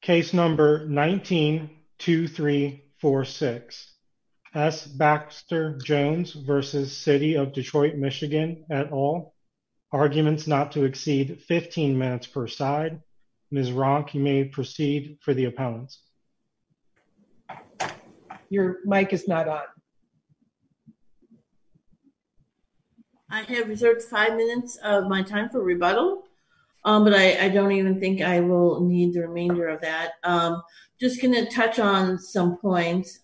Case number 19-2346. S. Baxter Jones v. City of Detroit MI at all. Arguments not to exceed 15 minutes per side. Ms. Ronk, you may proceed for the appellants. Your mic is not on. I have reserved five minutes of my time for rebuttal, but I don't even think I will need the remainder of that. I'm just going to touch on some points.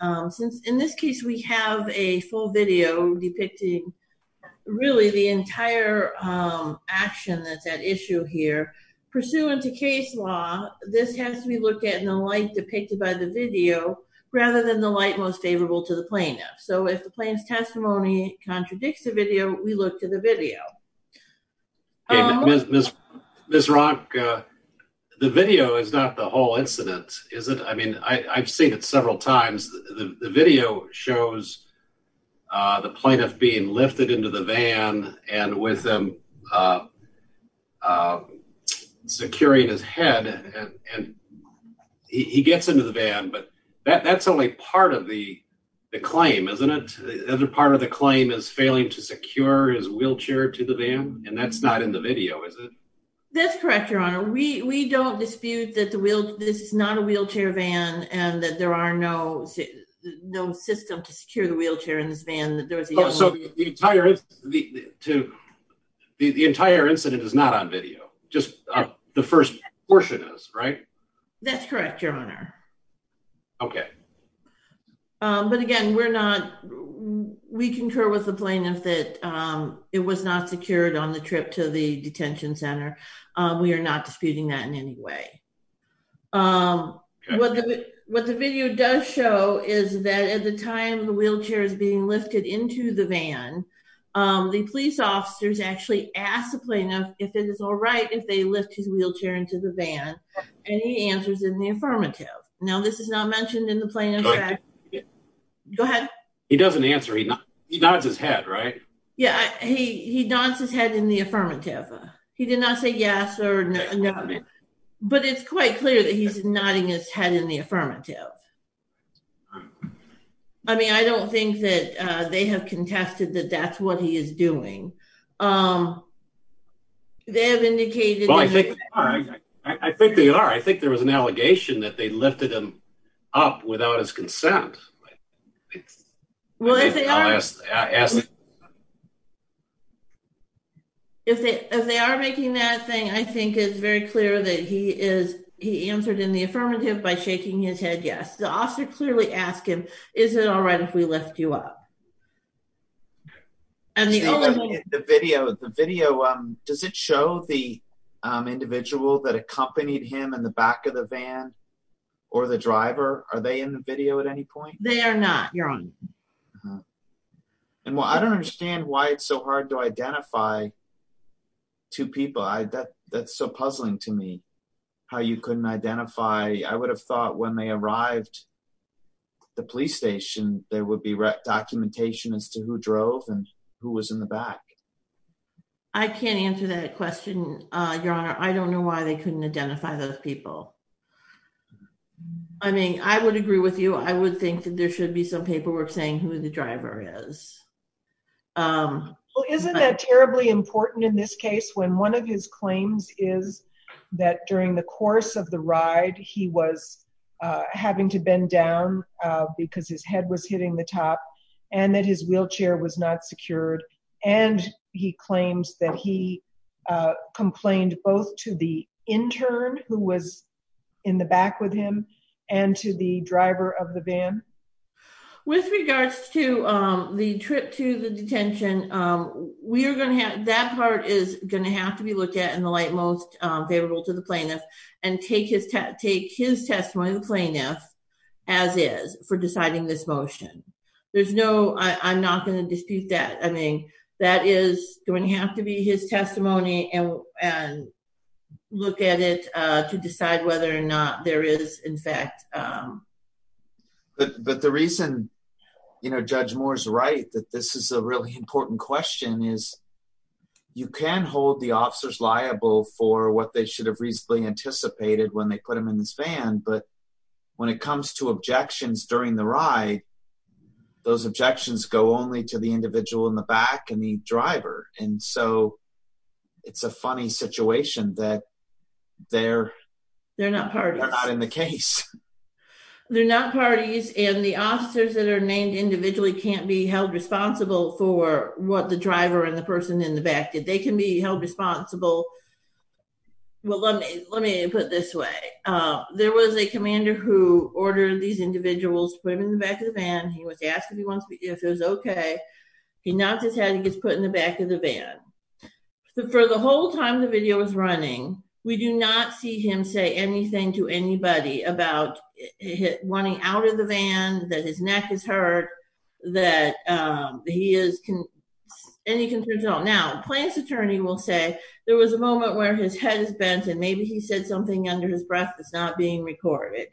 In this case, we have a full video depicting really the entire action that's at issue here. Pursuant to case law, this has to be looked at in the light depicted by the video rather than the light most favorable to the plaintiff. So if the plaintiff's testimony contradicts the video, we look to the video. Ms. Ronk, the video is not the whole incident, is it? I mean, I've seen it several times. The video shows the plaintiff being lifted into the van and with him securing his head and he gets into the van, but that's only part of the claim, isn't it? The other part of the claim is failing to secure his wheelchair to the van, and that's not in the video, is it? That's correct, Your Honor. We don't dispute that this is not a wheelchair van and that there are no systems to secure the wheelchair in this van. The entire incident is not on video. Just the first portion is, right? That's correct, Your Honor. Okay. But again, we're not, we concur with the plaintiff that it was not secured on the trip to the detention center. We are not disputing that in any way. What the video does show is that at the time the wheelchair is being lifted into the van, the police officers actually ask the plaintiff if it is all right if they lift his wheelchair into the van, and he answers in the affirmative. Go ahead. He doesn't answer. He nods his head, right? Yeah, he nods his head in the affirmative. He did not say yes or no, but it's quite clear that he's nodding his head in the affirmative. I mean, I don't think that they have contested that that's what he is doing. I think they are. I think there was an allegation that they lifted him up without his consent. If they are making that thing, I think it's very clear that he answered in the affirmative by shaking his head yes. The officer clearly asked him, is it all right if we lift you up? Yeah. The video, does it show the individual that accompanied him in the back of the van or the driver? Are they in the video at any point? They are not, your honor. Well, I don't understand why it's so hard to identify two people. That's so puzzling to me how you couldn't identify. I would have thought when they arrived at the police station, there would be documentation as to who drove and who was in the back. I can't answer that question, your honor. I don't know why they couldn't identify those people. I mean, I would agree with you. I would think that there should be some paperwork saying who the driver is. Well, isn't that terribly important in this case when one of his claims is that during the course of the ride, he was having to bend down because his head was hitting the top and that his wheelchair was not secured. He claims that he complained both to the intern who was in the back with him and to the driver of the van. With regards to the trip to the detention, that part is going to have to be looked at in the and take his testimony as is for deciding this motion. I'm not going to dispute that. I mean, that is going to have to be his testimony and look at it to decide whether or not there is, in fact. But the reason Judge Moore's right that this is a really important question is you can hold the officers liable for what they should have reasonably anticipated when they put him in this van. But when it comes to objections during the ride, those objections go only to the individual in the back and the driver. And so it's a funny situation that they're not in the case. They're not parties and the officers that are named individually can't be held responsible for what the driver and the person in the back did. They can be held responsible. Well, let me put it this way. There was a commander who ordered these individuals to put him in the back of the van. He was asked if it was okay. He knocked his head and gets put in the back of the van. For the whole time the video was running, we do not see him say anything to anybody about wanting out of the van, that his neck is hurt, that he has any concerns at all. Now, Plaintiff's attorney will say there was a moment where his head is bent and maybe he said something under his breath that's not being recorded.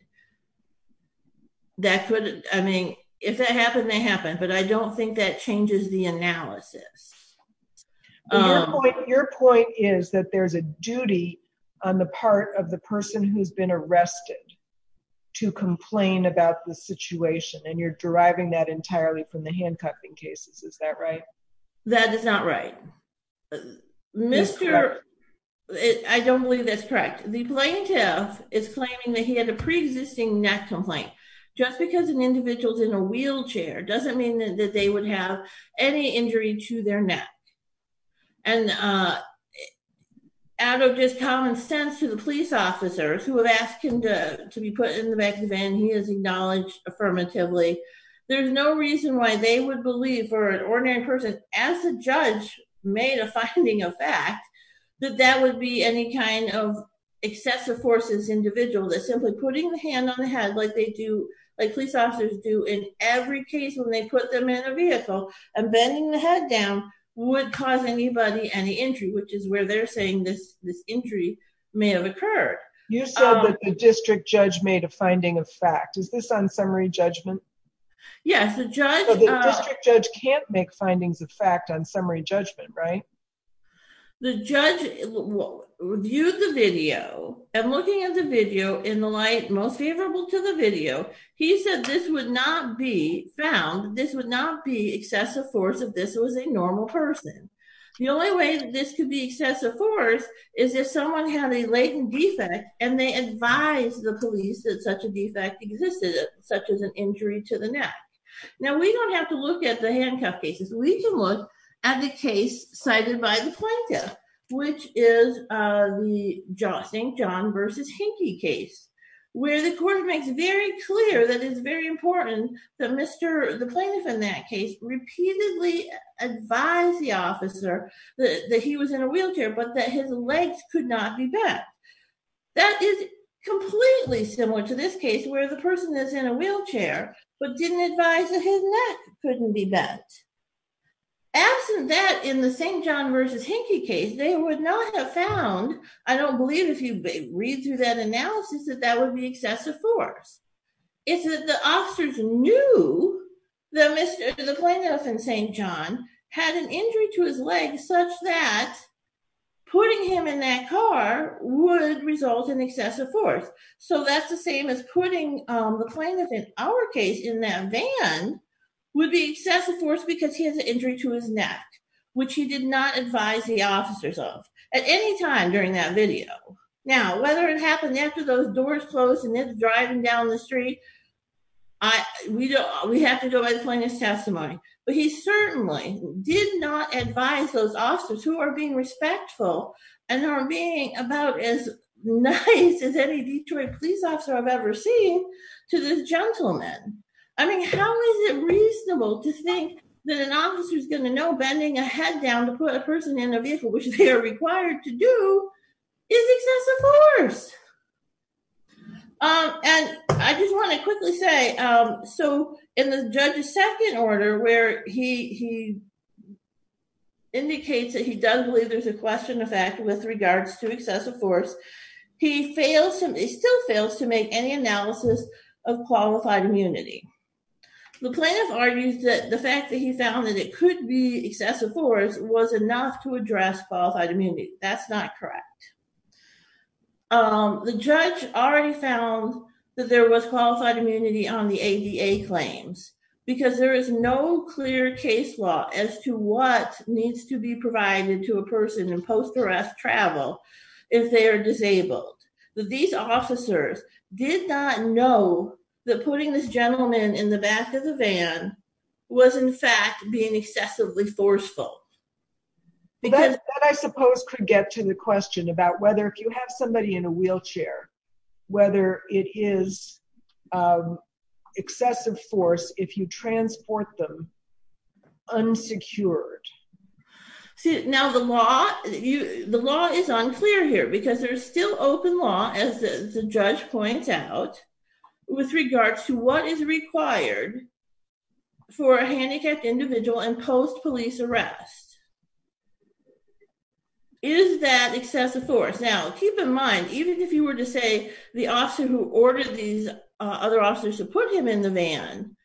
I mean, if that happened, it happened. But I don't think that changes the analysis. Your point is that there's a duty on the part of the person who's been arrested to complain about the situation and you're deriving that entirely from the handcuffing cases. Is that right? That is not right. Mr. I don't believe that's correct. The plaintiff is claiming that he had a pre existing neck complaint, just because an individual's in a wheelchair doesn't mean that they would have any injury to their neck. And out of just common sense to the police officers who have asked him to be put in the back of the van, he has acknowledged affirmatively, there's no reason why they would believe for an ordinary person as a judge made a finding of fact, that that would be any kind of excessive forces individual that simply putting the hand on the head like they do, like police officers do in every case when they put them in a vehicle and bending the head down would cause anybody any injury, which is where they're saying this, this injury may have occurred. You said that the district judge made a finding of fact is this on summary judgment? Yes, the judge judge can't make findings of fact on summary judgment, right? The judge will review the video and looking at the video in the light most favorable to the video, he said this would not be found this would not be excessive force if this was a normal person. The only way that this could be excessive force is if someone had a latent defect, and they advise the police that such a defect existed, such as an injury to the neck. Now, we don't have to look at the handcuff cases, we can look at the case cited by the plaintiff, which is the jostling john versus hinky case, where the court makes very clear that it's very important that Mr. the plaintiff in that case repeatedly advise the officer that he was in a wheelchair, but that his legs could not be bent. That is completely similar to this case where the person is in a wheelchair, but didn't advise that his neck couldn't be bent. Absent that in the same john versus hinky case, they would not have found I don't believe if you read through that analysis that that would be excessive force. It's that the officers knew that Mr. the plaintiff in St. John had an injury to his legs such that putting him in that car would result in excessive force. So that's the same as putting the plaintiff in our case in that van would be excessive force because he has an injury to his neck, which he did not advise the officers of at any time during that video. Now whether it happened after those doors closed and it's driving down the street. I we don't we have to go by the plaintiff's testimony, but he certainly did not advise those officers who are being respectful, and are being about as nice as any Detroit police officer I've ever seen to the gentleman. I mean, how is it reasonable to think that an officer is going to know bending a head down to put a person in a vehicle which they are required to do is excessive force. And I just want to quickly say, so in the judge's second order where he he indicates that he doesn't believe there's a question of fact with regards to excessive force. He fails him he still fails to make any analysis of qualified immunity. The plaintiff argues that the fact that he found that it could be excessive force was enough to address qualified immunity. That's not correct. The judge already found that there was qualified immunity on the ADA claims, because there is no clear case law as to what needs to be provided to a person in post arrest travel. If they are disabled. These officers did not know that putting this gentleman in the back of the van was in fact being excessively forceful. Because I suppose could get to the question about whether if you have somebody in a wheelchair, whether it is excessive force if you transport them unsecured. See, now the law, the law is unclear here because there's still open law, as the judge points out, with regards to what is required for a handicapped individual and post police arrest. Is that excessive force now keep in mind, even if you were to say the officer who ordered these other officers to put him in the van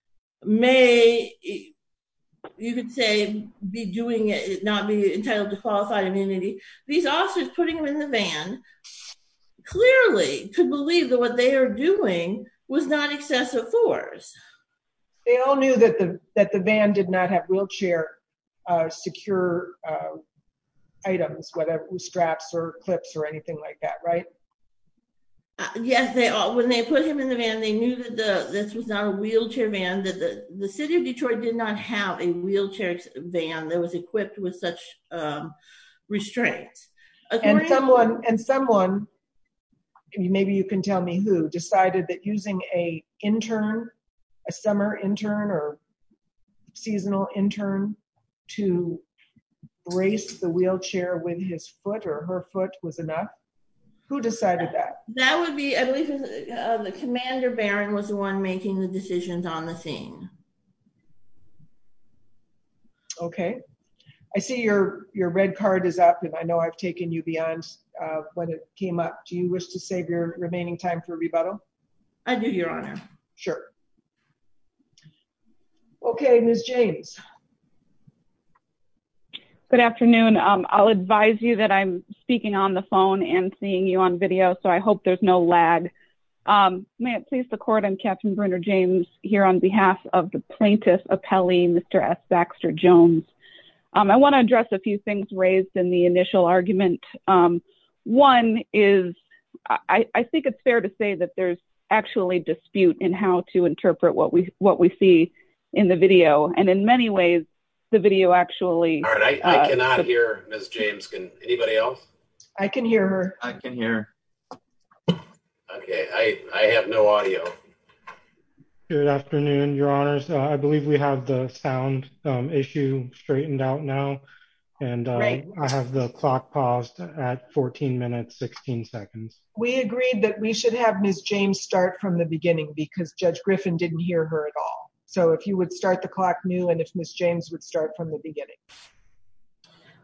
may you could say be doing it not be entitled to qualified immunity. These officers putting them in the van clearly could believe that what they are doing was not excessive force. They all knew that the that the van did not have wheelchair secure items, whether it was straps or clips or anything like that, right? Yes, they all when they put him in the van, they knew that the this was not a wheelchair van that the city of Detroit did not have a wheelchair van that was equipped with such restraint. And someone and someone can you maybe you can tell me who decided that using a intern, a summer intern or seasonal intern to brace the wheelchair with his foot or her foot was enough. Who decided that that would be the commander Baron was the one making the decisions on the scene. Okay, I see your your red card is up. And I know I've taken you beyond when it came up. Do you wish to save your remaining time for rebuttal? I do, Your Honor. Sure. Okay, Miss James. Good afternoon. I'll advise you that I'm speaking on the phone and seeing you on video. So I hope there's no lag. May it please the court and Captain Brenner James here on behalf of the plaintiff appellee Mr. S. Baxter Jones. I want to address a few things raised in the initial argument. One is, I think it's fair to say that there's actually dispute in how to interpret what we see in the video. And in many ways, the video actually I cannot hear Miss James. Can anybody else? I can hear I can hear. Okay, I have no audio. Good afternoon, Your Honors. I believe we have the sound issue straightened out now. And I have the clock paused at 14 minutes 16 seconds. We agreed that we should have Miss James start from the beginning because Judge Griffin didn't hear her at all. So if you would start the clock new and if Miss James would start from the beginning.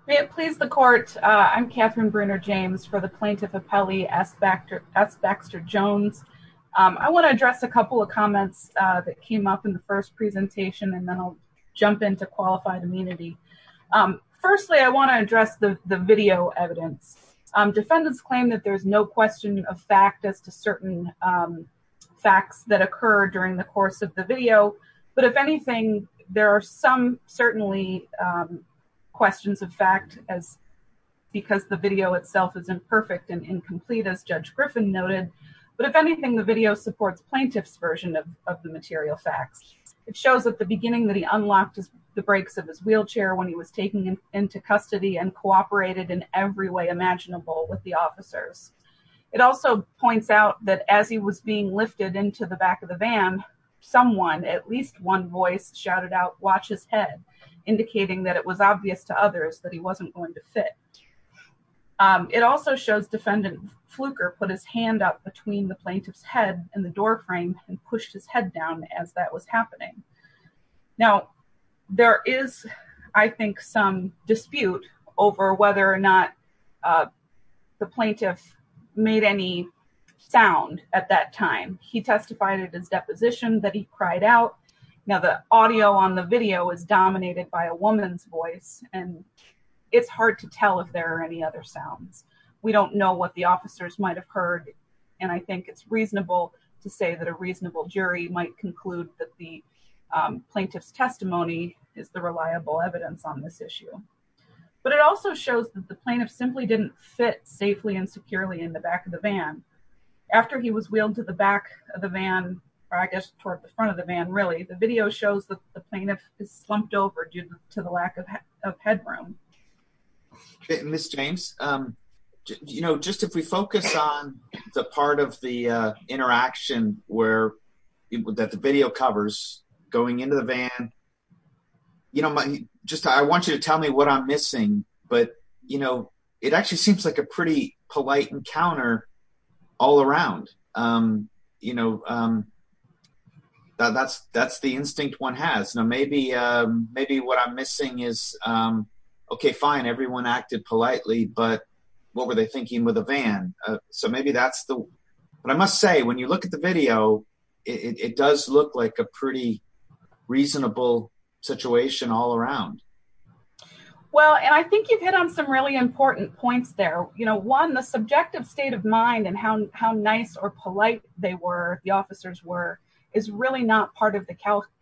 May it please the court. I'm Catherine Brenner James for the plaintiff appellee S. Baxter Jones. I want to address a couple of comments that came up in the first presentation and then I'll jump into qualified immunity. Firstly, I want to address the video evidence. Defendants claim that there's no question of fact as to certain facts that occur during the course of the video. But if anything, there are some certainly questions of fact as because the video itself isn't perfect and incomplete as Judge Griffin noted. But if anything, the video supports plaintiff's version of the material facts. It shows at the beginning that he unlocked the brakes of his wheelchair when he was taking him into custody and cooperated in every way imaginable with the officers. It also points out that as he was being lifted into the back of the someone at least one voice shouted out watch his head indicating that it was obvious to others that he wasn't going to fit. It also shows defendant Fluker put his hand up between the plaintiff's head and the door frame and pushed his head down as that was happening. Now there is I think some over whether or not the plaintiff made any sound at that time. He testified at his deposition that he cried out. Now the audio on the video is dominated by a woman's voice and it's hard to tell if there are any other sounds. We don't know what the officers might have heard and I think it's reasonable to say that a reasonable jury might conclude that the plaintiff's testimony is the reliable evidence on this issue. But it also shows that the plaintiff simply didn't fit safely and securely in the back of the van. After he was wheeled to the back of the van or I guess toward the front of the van really the video shows that the plaintiff is slumped over due to the lack of headroom. Ms. James you know just if we focus on the part of the interaction where that the video covers going into the van you know just I want you to tell me what I'm missing but you know it actually seems like a pretty polite encounter all around. You know that's the instinct one has. Now maybe what I'm missing is okay fine everyone acted politely but what were they thinking with a van? So maybe that's the but I must say when you look at the video it does look like a pretty reasonable situation all around. Well and I think you've hit on some really important points there. You know one the subjective state of mind and how how nice or polite they were the officers were is really not part of the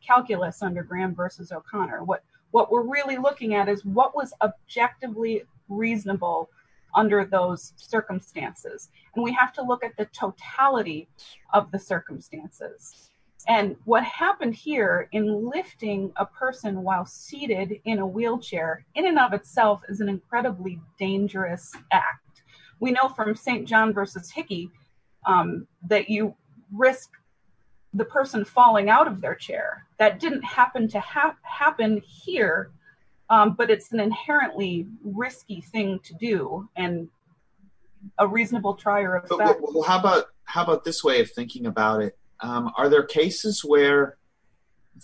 calculus under Graham versus O'Connor. What we're really looking at is what was objectively reasonable under those circumstances and we have to look at the totality of the circumstances and what happened here in lifting a person while seated in a wheelchair in and of itself is an incredibly dangerous act. We know from St. John versus Hickey that you risk the person falling out of their chair. That didn't happen to happen here but it's an inherently risky thing to do and a reasonable trier of that. Well how about how about this way of thinking about it? Are there cases where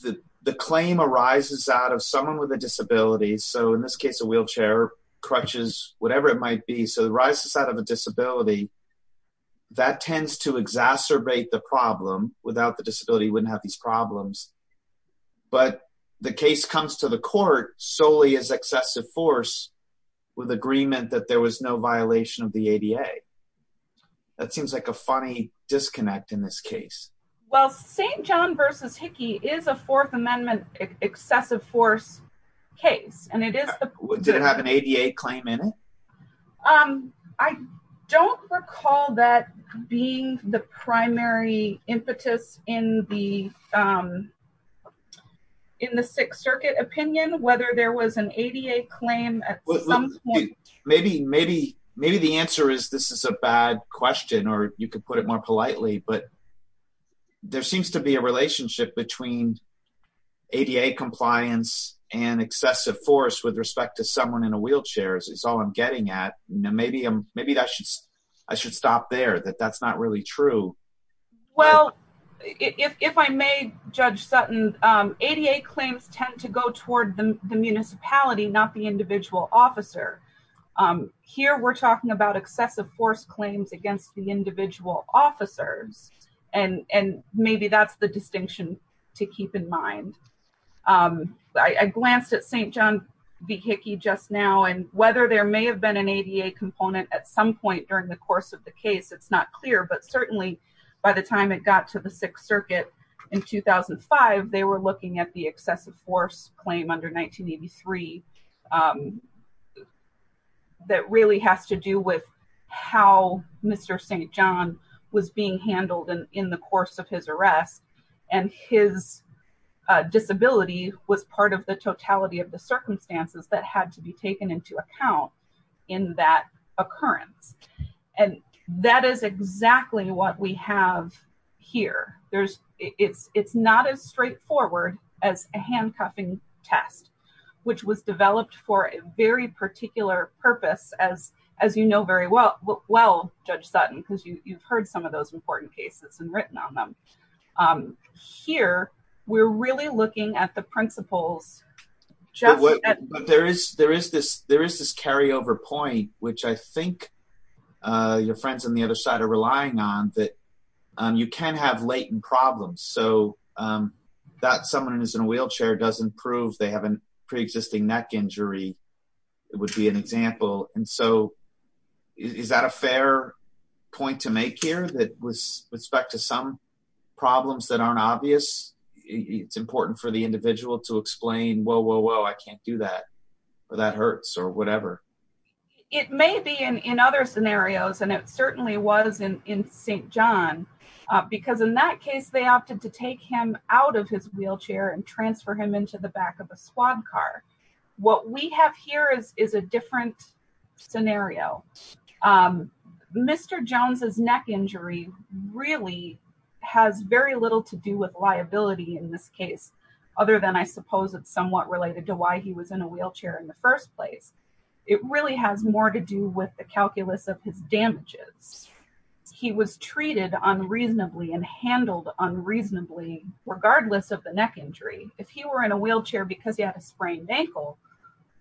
the the claim arises out of someone with a disability? So in this case a wheelchair, crutches, whatever it might be. So it arises out of a disability that tends to exacerbate the problem. Without the but the case comes to the court solely as excessive force with agreement that there was no violation of the ADA. That seems like a funny disconnect in this case. Well St. John versus Hickey is a fourth amendment excessive force case and it is. Did it have an ADA claim in it? I don't recall that being the primary impetus in the in the Sixth Circuit opinion whether there was an ADA claim at some point. Maybe maybe maybe the answer is this is a bad question or you could put it more politely but there seems to be a relationship between ADA compliance and excessive force with respect to someone in a wheelchair is all I'm getting at. Maybe I should stop there that that's not really true. Well if I may Judge Sutton, ADA claims tend to go toward the municipality not the individual officer. Here we're talking about excessive force claims against the individual officers and maybe that's the distinction to keep in mind. I glanced at St. John v. Hickey just now and whether there may have been an ADA component at some point during the course of the case it's not clear but certainly by the time it got to the Sixth Circuit in 2005 they were looking at the excessive force claim under 1983 that really has to do with how Mr. St. John was being handled in the course of his arrest and his disability was part of the totality of circumstances that had to be taken into account in that occurrence and that is exactly what we have here. There's it's it's not as straightforward as a handcuffing test which was developed for a very particular purpose as as you know very well well Judge Sutton because you you've heard some of there is there is this there is this carryover point which I think your friends on the other side are relying on that you can have latent problems so that someone who's in a wheelchair doesn't prove they have a pre-existing neck injury it would be an example and so is that a fair point to make here that with respect to some problems that aren't obvious it's important for the individual to explain whoa whoa whoa I can't do that or that hurts or whatever. It may be in in other scenarios and it certainly was in in St. John because in that case they opted to take him out of his wheelchair and transfer him into the back of a squad car. What we have here is is a different scenario. Mr. Jones's neck injury really has very little to do with liability in this case other than I suppose it's somewhat related to why he was in a wheelchair in the first place. It really has more to do with the calculus of his damages. He was treated unreasonably and handled unreasonably regardless of the neck injury. If he were in a wheelchair because he had a sprained ankle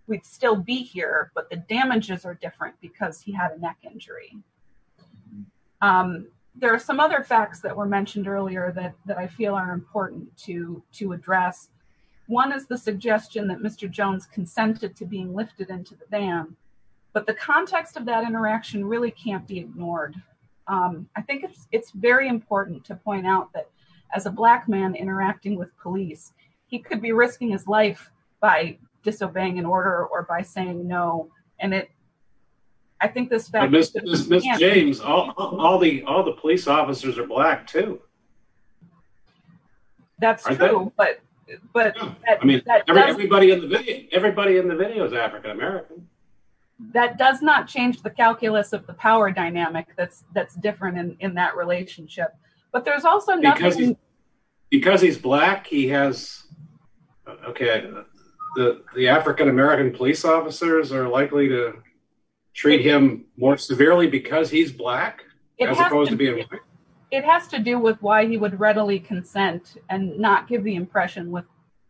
we'd still be here but the damages are different because he had a to to address. One is the suggestion that Mr. Jones consented to being lifted into the van but the context of that interaction really can't be ignored. I think it's very important to point out that as a black man interacting with police he could be risking his life by disobeying an order or by saying no and it I think this... Ms. James all the all the police officers are black too. That's true but but I mean everybody in the video is African-American. That does not change the calculus of the power dynamic that's different in that relationship but there's also nothing... Because he's black he has okay the African-American police officers are likely to treat him more severely because he's black as opposed to being white. It has to do with why he would readily consent and not give the impression with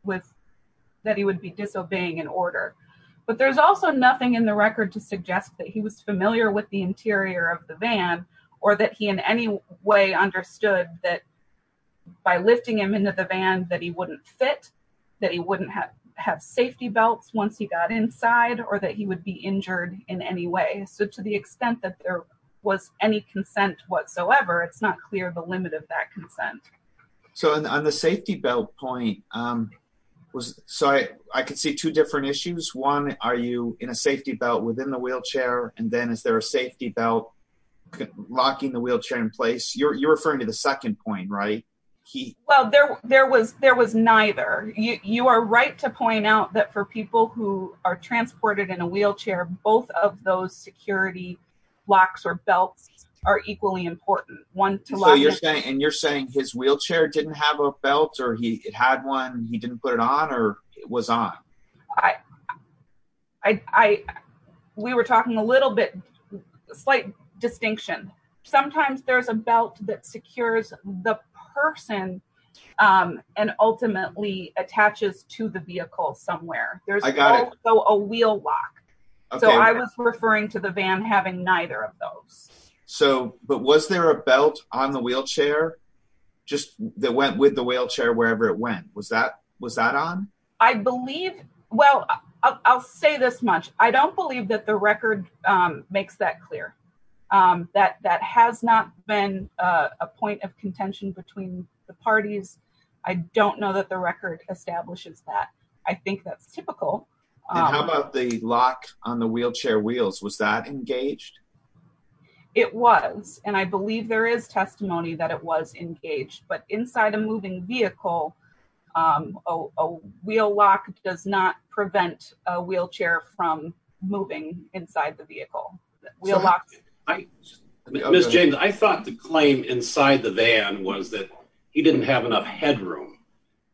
with that he would be disobeying an order but there's also nothing in the record to suggest that he was familiar with the interior of the van or that he in any way understood that by lifting him into the van that he wouldn't fit, that he wouldn't have have safety belts once he got inside or that he would be injured in any way. So to the extent that there was any consent whatsoever it's not clear the limit of that consent. So on the safety belt point was so I could see two different issues. One are you in a safety belt within the wheelchair and then is there a safety belt locking the wheelchair in place? You're referring to the second point right? Well there there was there was neither. You are right to point out that for people who are transported in a wheelchair both of those security locks or belts are equally important. So you're saying and you're saying his wheelchair didn't have a belt or he had one he didn't put it on or it was on? I we were talking a little bit slight distinction. Sometimes there's a belt that secures the person and ultimately attaches to the vehicle somewhere. There's also a wheel lock. So I was referring to the van having neither of those. So but was there a belt on the wheelchair just that went with the wheelchair wherever it went? Was that was that on? I believe well I'll say this much. I don't believe that the record makes that clear. That that has not been a point of contention between the parties. I don't know the record establishes that. I think that's typical. How about the lock on the wheelchair wheels? Was that engaged? It was and I believe there is testimony that it was engaged but inside a moving vehicle a wheel lock does not prevent a wheelchair from moving inside the vehicle. Wheel lock. Miss James I thought the claim inside the van was that he didn't have enough headroom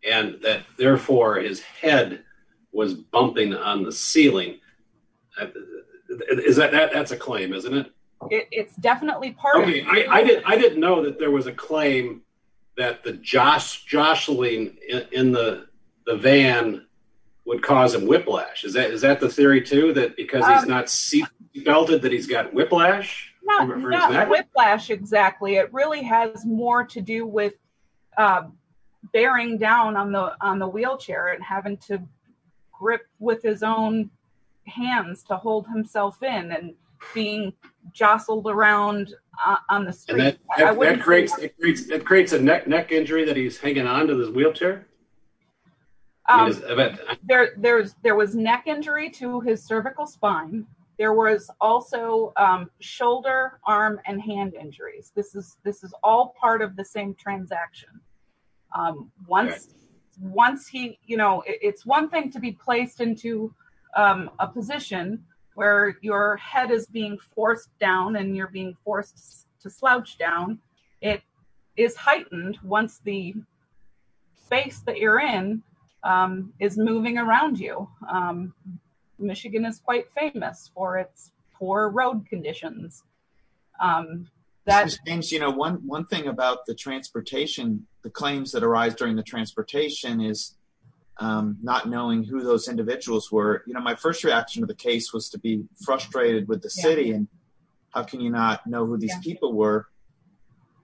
and that therefore his head was bumping on the ceiling. Is that that's a claim isn't it? It's definitely part of it. I didn't know that there was a claim that the jostling in the van would cause a whiplash. Is that is that the theory too that because he's not seat belted that he's got whiplash? Whiplash exactly. It really has more to do with bearing down on the on the wheelchair and having to grip with his own hands to hold himself in and being jostled around on the street. That creates it creates a neck injury that he's hanging onto his wheelchair. There was neck injury to his cervical spine. There was also shoulder arm and hand injuries. This is all part of the same transaction. Once he you know it's one thing to be placed into a position where your head is being forced down and you're being forced to slouch down. It is heightened once the space that you're in is moving around you. Michigan is quite famous for its poor road conditions. Miss James you know one one thing about the transportation the claims that arise during the transportation is not knowing who those individuals were. You know my first reaction to the case was to be frustrated with the city and how can you not know who these people were.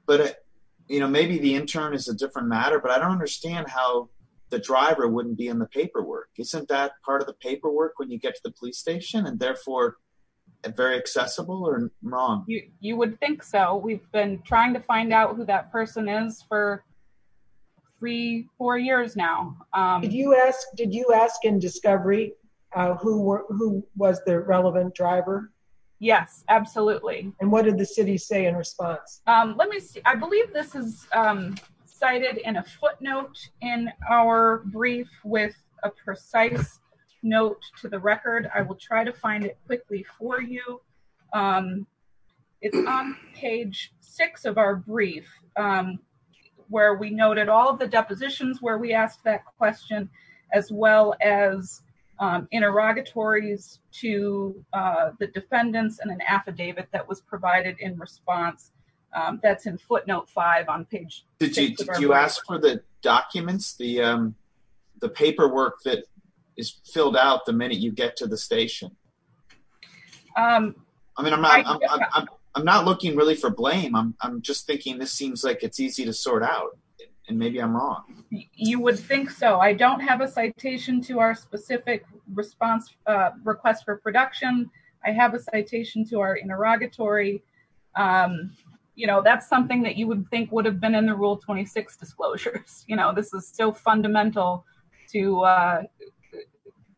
But you know maybe the intern is a different matter but I don't understand how the driver wouldn't be in the paperwork. Isn't that part of the paperwork when you get to the police station and therefore very accessible or wrong? You would think so. We've been trying to find out who that was the relevant driver. Yes absolutely. And what did the city say in response? Let me see I believe this is cited in a footnote in our brief with a precise note to the record. I will try to find it quickly for you. It's on page six of our brief where we noted all the depositions where we asked that question as well as interrogatories to the defendants and an affidavit that was provided in response. That's in footnote five on page. Did you ask for the documents the paperwork that is filled out the minute you get to the station? I mean I'm not looking really for blame. I'm just so I don't have a citation to our specific response request for production. I have a citation to our interrogatory. You know that's something that you would think would have been in the rule 26 disclosures. You know this is so fundamental to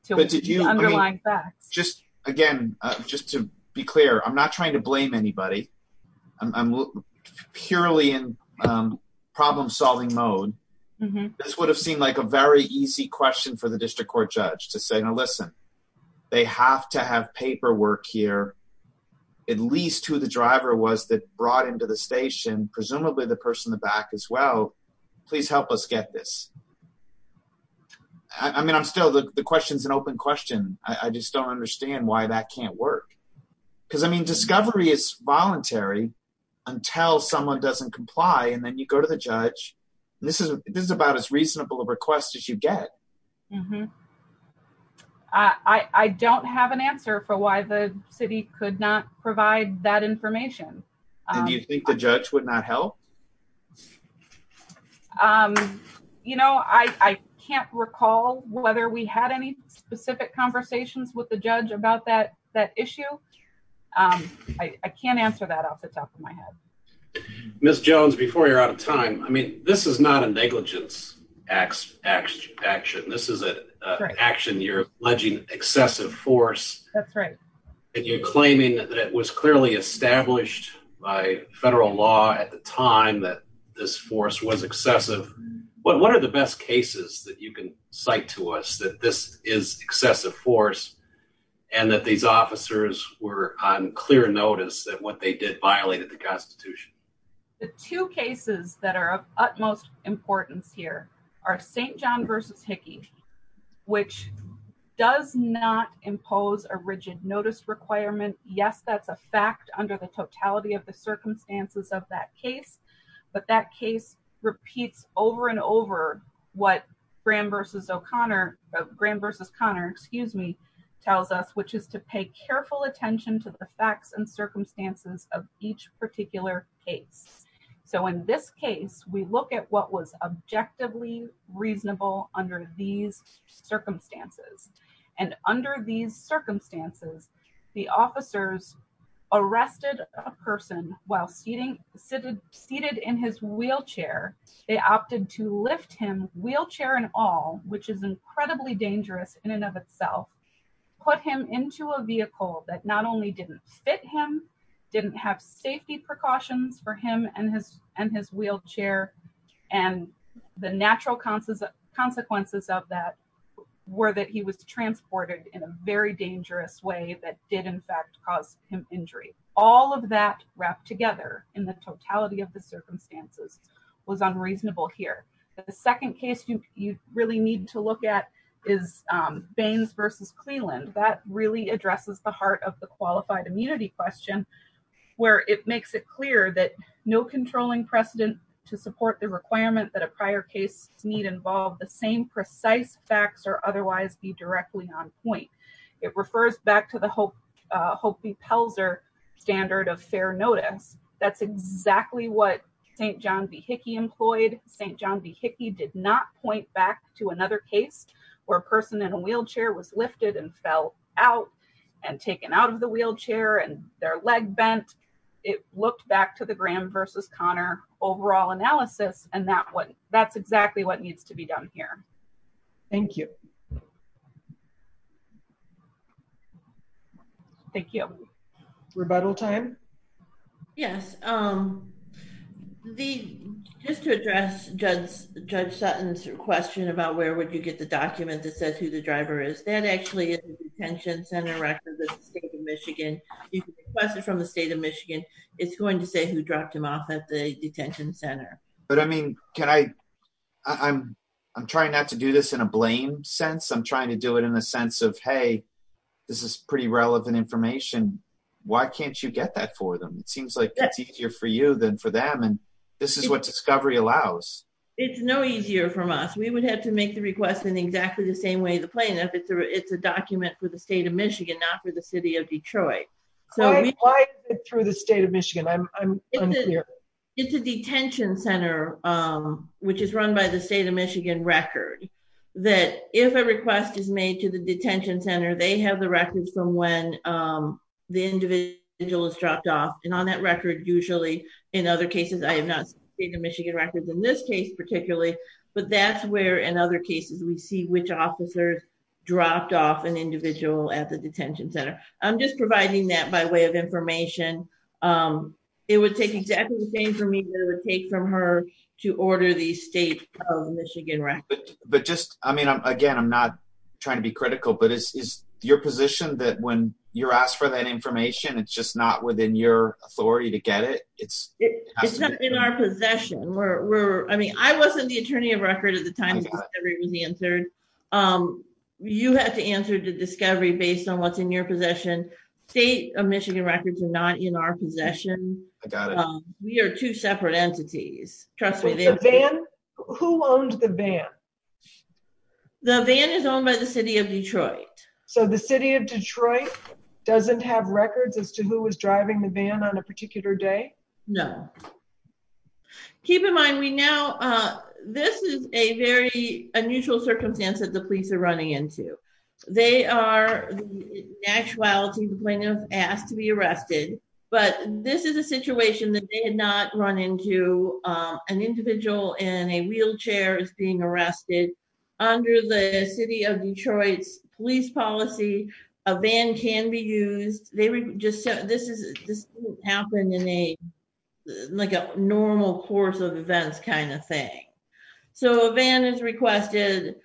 the underlying facts. Just again just to be clear I'm not trying to blame anybody. I'm purely in problem solving mode. This would have a very easy question for the district court judge to say now listen they have to have paperwork here at least who the driver was that brought into the station presumably the person in the back as well please help us get this. I mean I'm still the question's an open question. I just don't understand why that can't work because I mean discovery is voluntary until someone doesn't comply and then you go to the judge. This is this is about as reasonable a request as you get. I don't have an answer for why the city could not provide that information. Do you think the judge would not help? You know I can't recall whether we had any specific conversations with the judge about that issue. I can't answer that off the top of my head. Ms. Jones before you're out of time I mean this is not a negligence action. This is an action you're alleging excessive force. That's right. And you're claiming that it was clearly established by federal law at the time that this force was excessive. What are the best cases that you can cite to us that this is and that these officers were on clear notice that what they did violated the constitution? The two cases that are of utmost importance here are St. John v. Hickey which does not impose a rigid notice requirement. Yes that's a fact under the totality of the circumstances of that case but that case repeats over and over what Graham v. O'Connor, Graham v. Connor excuse me tells us which is to pay careful attention to the facts and circumstances of each particular case. So in this case we look at what was objectively reasonable under these circumstances and under these circumstances the officers arrested a person while seated in his wheelchair. They opted to lift him wheelchair and all which is incredibly dangerous in and of itself put him into a vehicle that not only didn't fit him didn't have safety precautions for him and his and his wheelchair and the natural consequences of that were that he was transported in a very dangerous way that did in fact cause him injury. All of that wrapped together in the totality of the circumstances was unreasonable here. The second case you really need to look at is Baines v. Cleland. That really addresses the heart of the qualified immunity question where it makes it clear that no controlling precedent to support the requirement that a prior case need involve the same precise facts or otherwise be directly on point. It refers back to the Hope v. Pelzer standard of St. John v. Hickey employed. St. John v. Hickey did not point back to another case where a person in a wheelchair was lifted and fell out and taken out of the wheelchair and their leg bent. It looked back to the Graham v. Connor overall analysis and that what that's exactly what needs to be done here. Thank you. Thank you. Rebuttal time. Yes, just to address Judge Sutton's question about where would you get the document that says who the driver is. That actually is the detention center records of the state of Michigan. You can request it from the state of Michigan. It's going to say who dropped him off at the detention center. But I mean can I, I'm trying not to do this in a blame sense. I'm trying to do it in a sense of hey, this is pretty relevant information. Why can't you get that for them? It seems like it's easier for you than for them and this is what discovery allows. It's no easier from us. We would have to make the request in exactly the same way the plaintiff. It's a document for the state of Michigan, not for the city of Detroit. Why is it through the state of Michigan? I'm unclear. It's a detention center which is run by the state of Michigan. If a request is made to the detention center, they have the records from when the individual is dropped off and on that record usually in other cases, I have not seen the Michigan records in this case particularly, but that's where in other cases we see which officers dropped off an individual at the detention center. I'm just providing that by way of information. It would take exactly the same for me to take from her to order the state of Michigan record. I'm not trying to be critical, but is your position that when you're asked for that information, it's just not within your authority to get it? It's not in our possession. I wasn't the attorney of record at the time the discovery was answered. You had to answer the discovery based on what's in your possession. State of Michigan records are not in our possession. I got it. We are two separate entities. Who owned the van? The van is owned by the city of Detroit. So the city of Detroit doesn't have records as to who was driving the van on a particular day? No. Keep in mind, this is a very unusual circumstance that the police are running into. They are, in actuality, going to ask to be arrested, but this is a situation that they had not run into. An individual in a wheelchair is being arrested. Under the city of Detroit's police policy, a van can be used. This didn't happen in a normal course of events kind of thing. So a van is requested.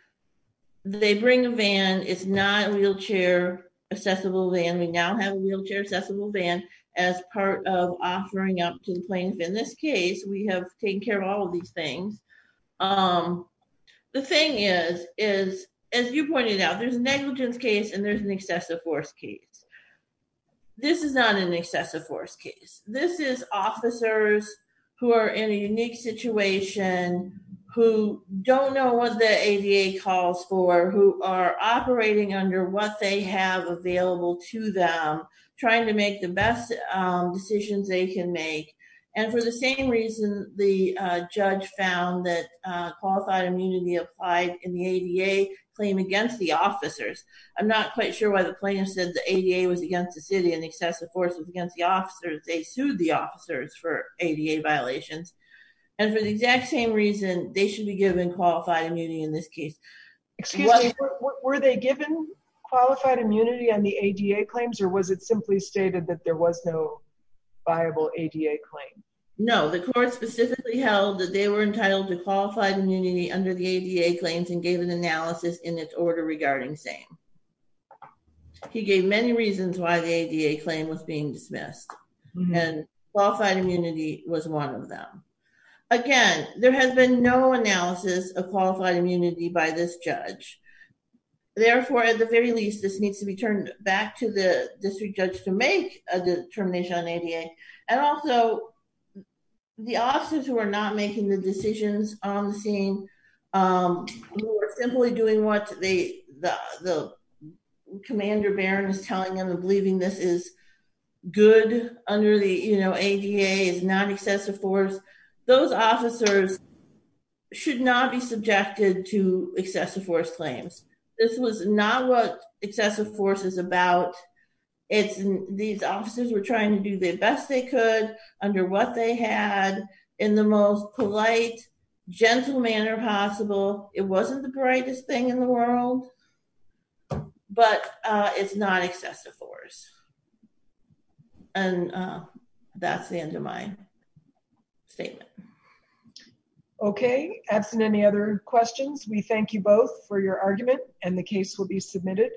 They bring a van. It's not a wheelchair-accessible van. We now have a wheelchair-accessible van as part of offering up to the plaintiff. In this case, we have taken care of all of these things. The thing is, as you pointed out, there's a negligence case and there's an excessive force case. This is not an excessive force case. This is officers who are in a unique situation who don't know what the ADA calls for, who are operating under what they have available to them, trying to make the best decisions they can make. For the same reason, the judge found that qualified immunity applied in the ADA claim against the officers. I'm not quite sure why the plaintiff said the ADA was against the city and excessive force was against the officers. They sued the officers for ADA violations and for the exact same reason, they should be given qualified immunity in this case. Excuse me, were they given qualified immunity on the ADA claims or was it simply stated that there was no viable ADA claim? No, the court specifically held that they were entitled to qualified immunity under the ADA claims and gave an analysis in its order regarding same. He gave many reasons why the ADA claim was being dismissed and qualified immunity was one of them. Again, there has been no analysis of qualified immunity by this judge. Therefore, at the very least, this needs to be turned back to the district judge to make a determination on ADA and also the officers who are not making the decisions on the scene, who are simply doing what the commander baron is telling them and believing this is good under the ADA is not excessive force. Those officers should not be subjected to excessive force claims. This was not what excessive force is about. These officers were trying to do the best they could under what they had in the most difficult circumstances in the world, but it's not excessive force and that's the end of my statement. Okay, absent any other questions, we thank you both for your argument and the case will be submitted.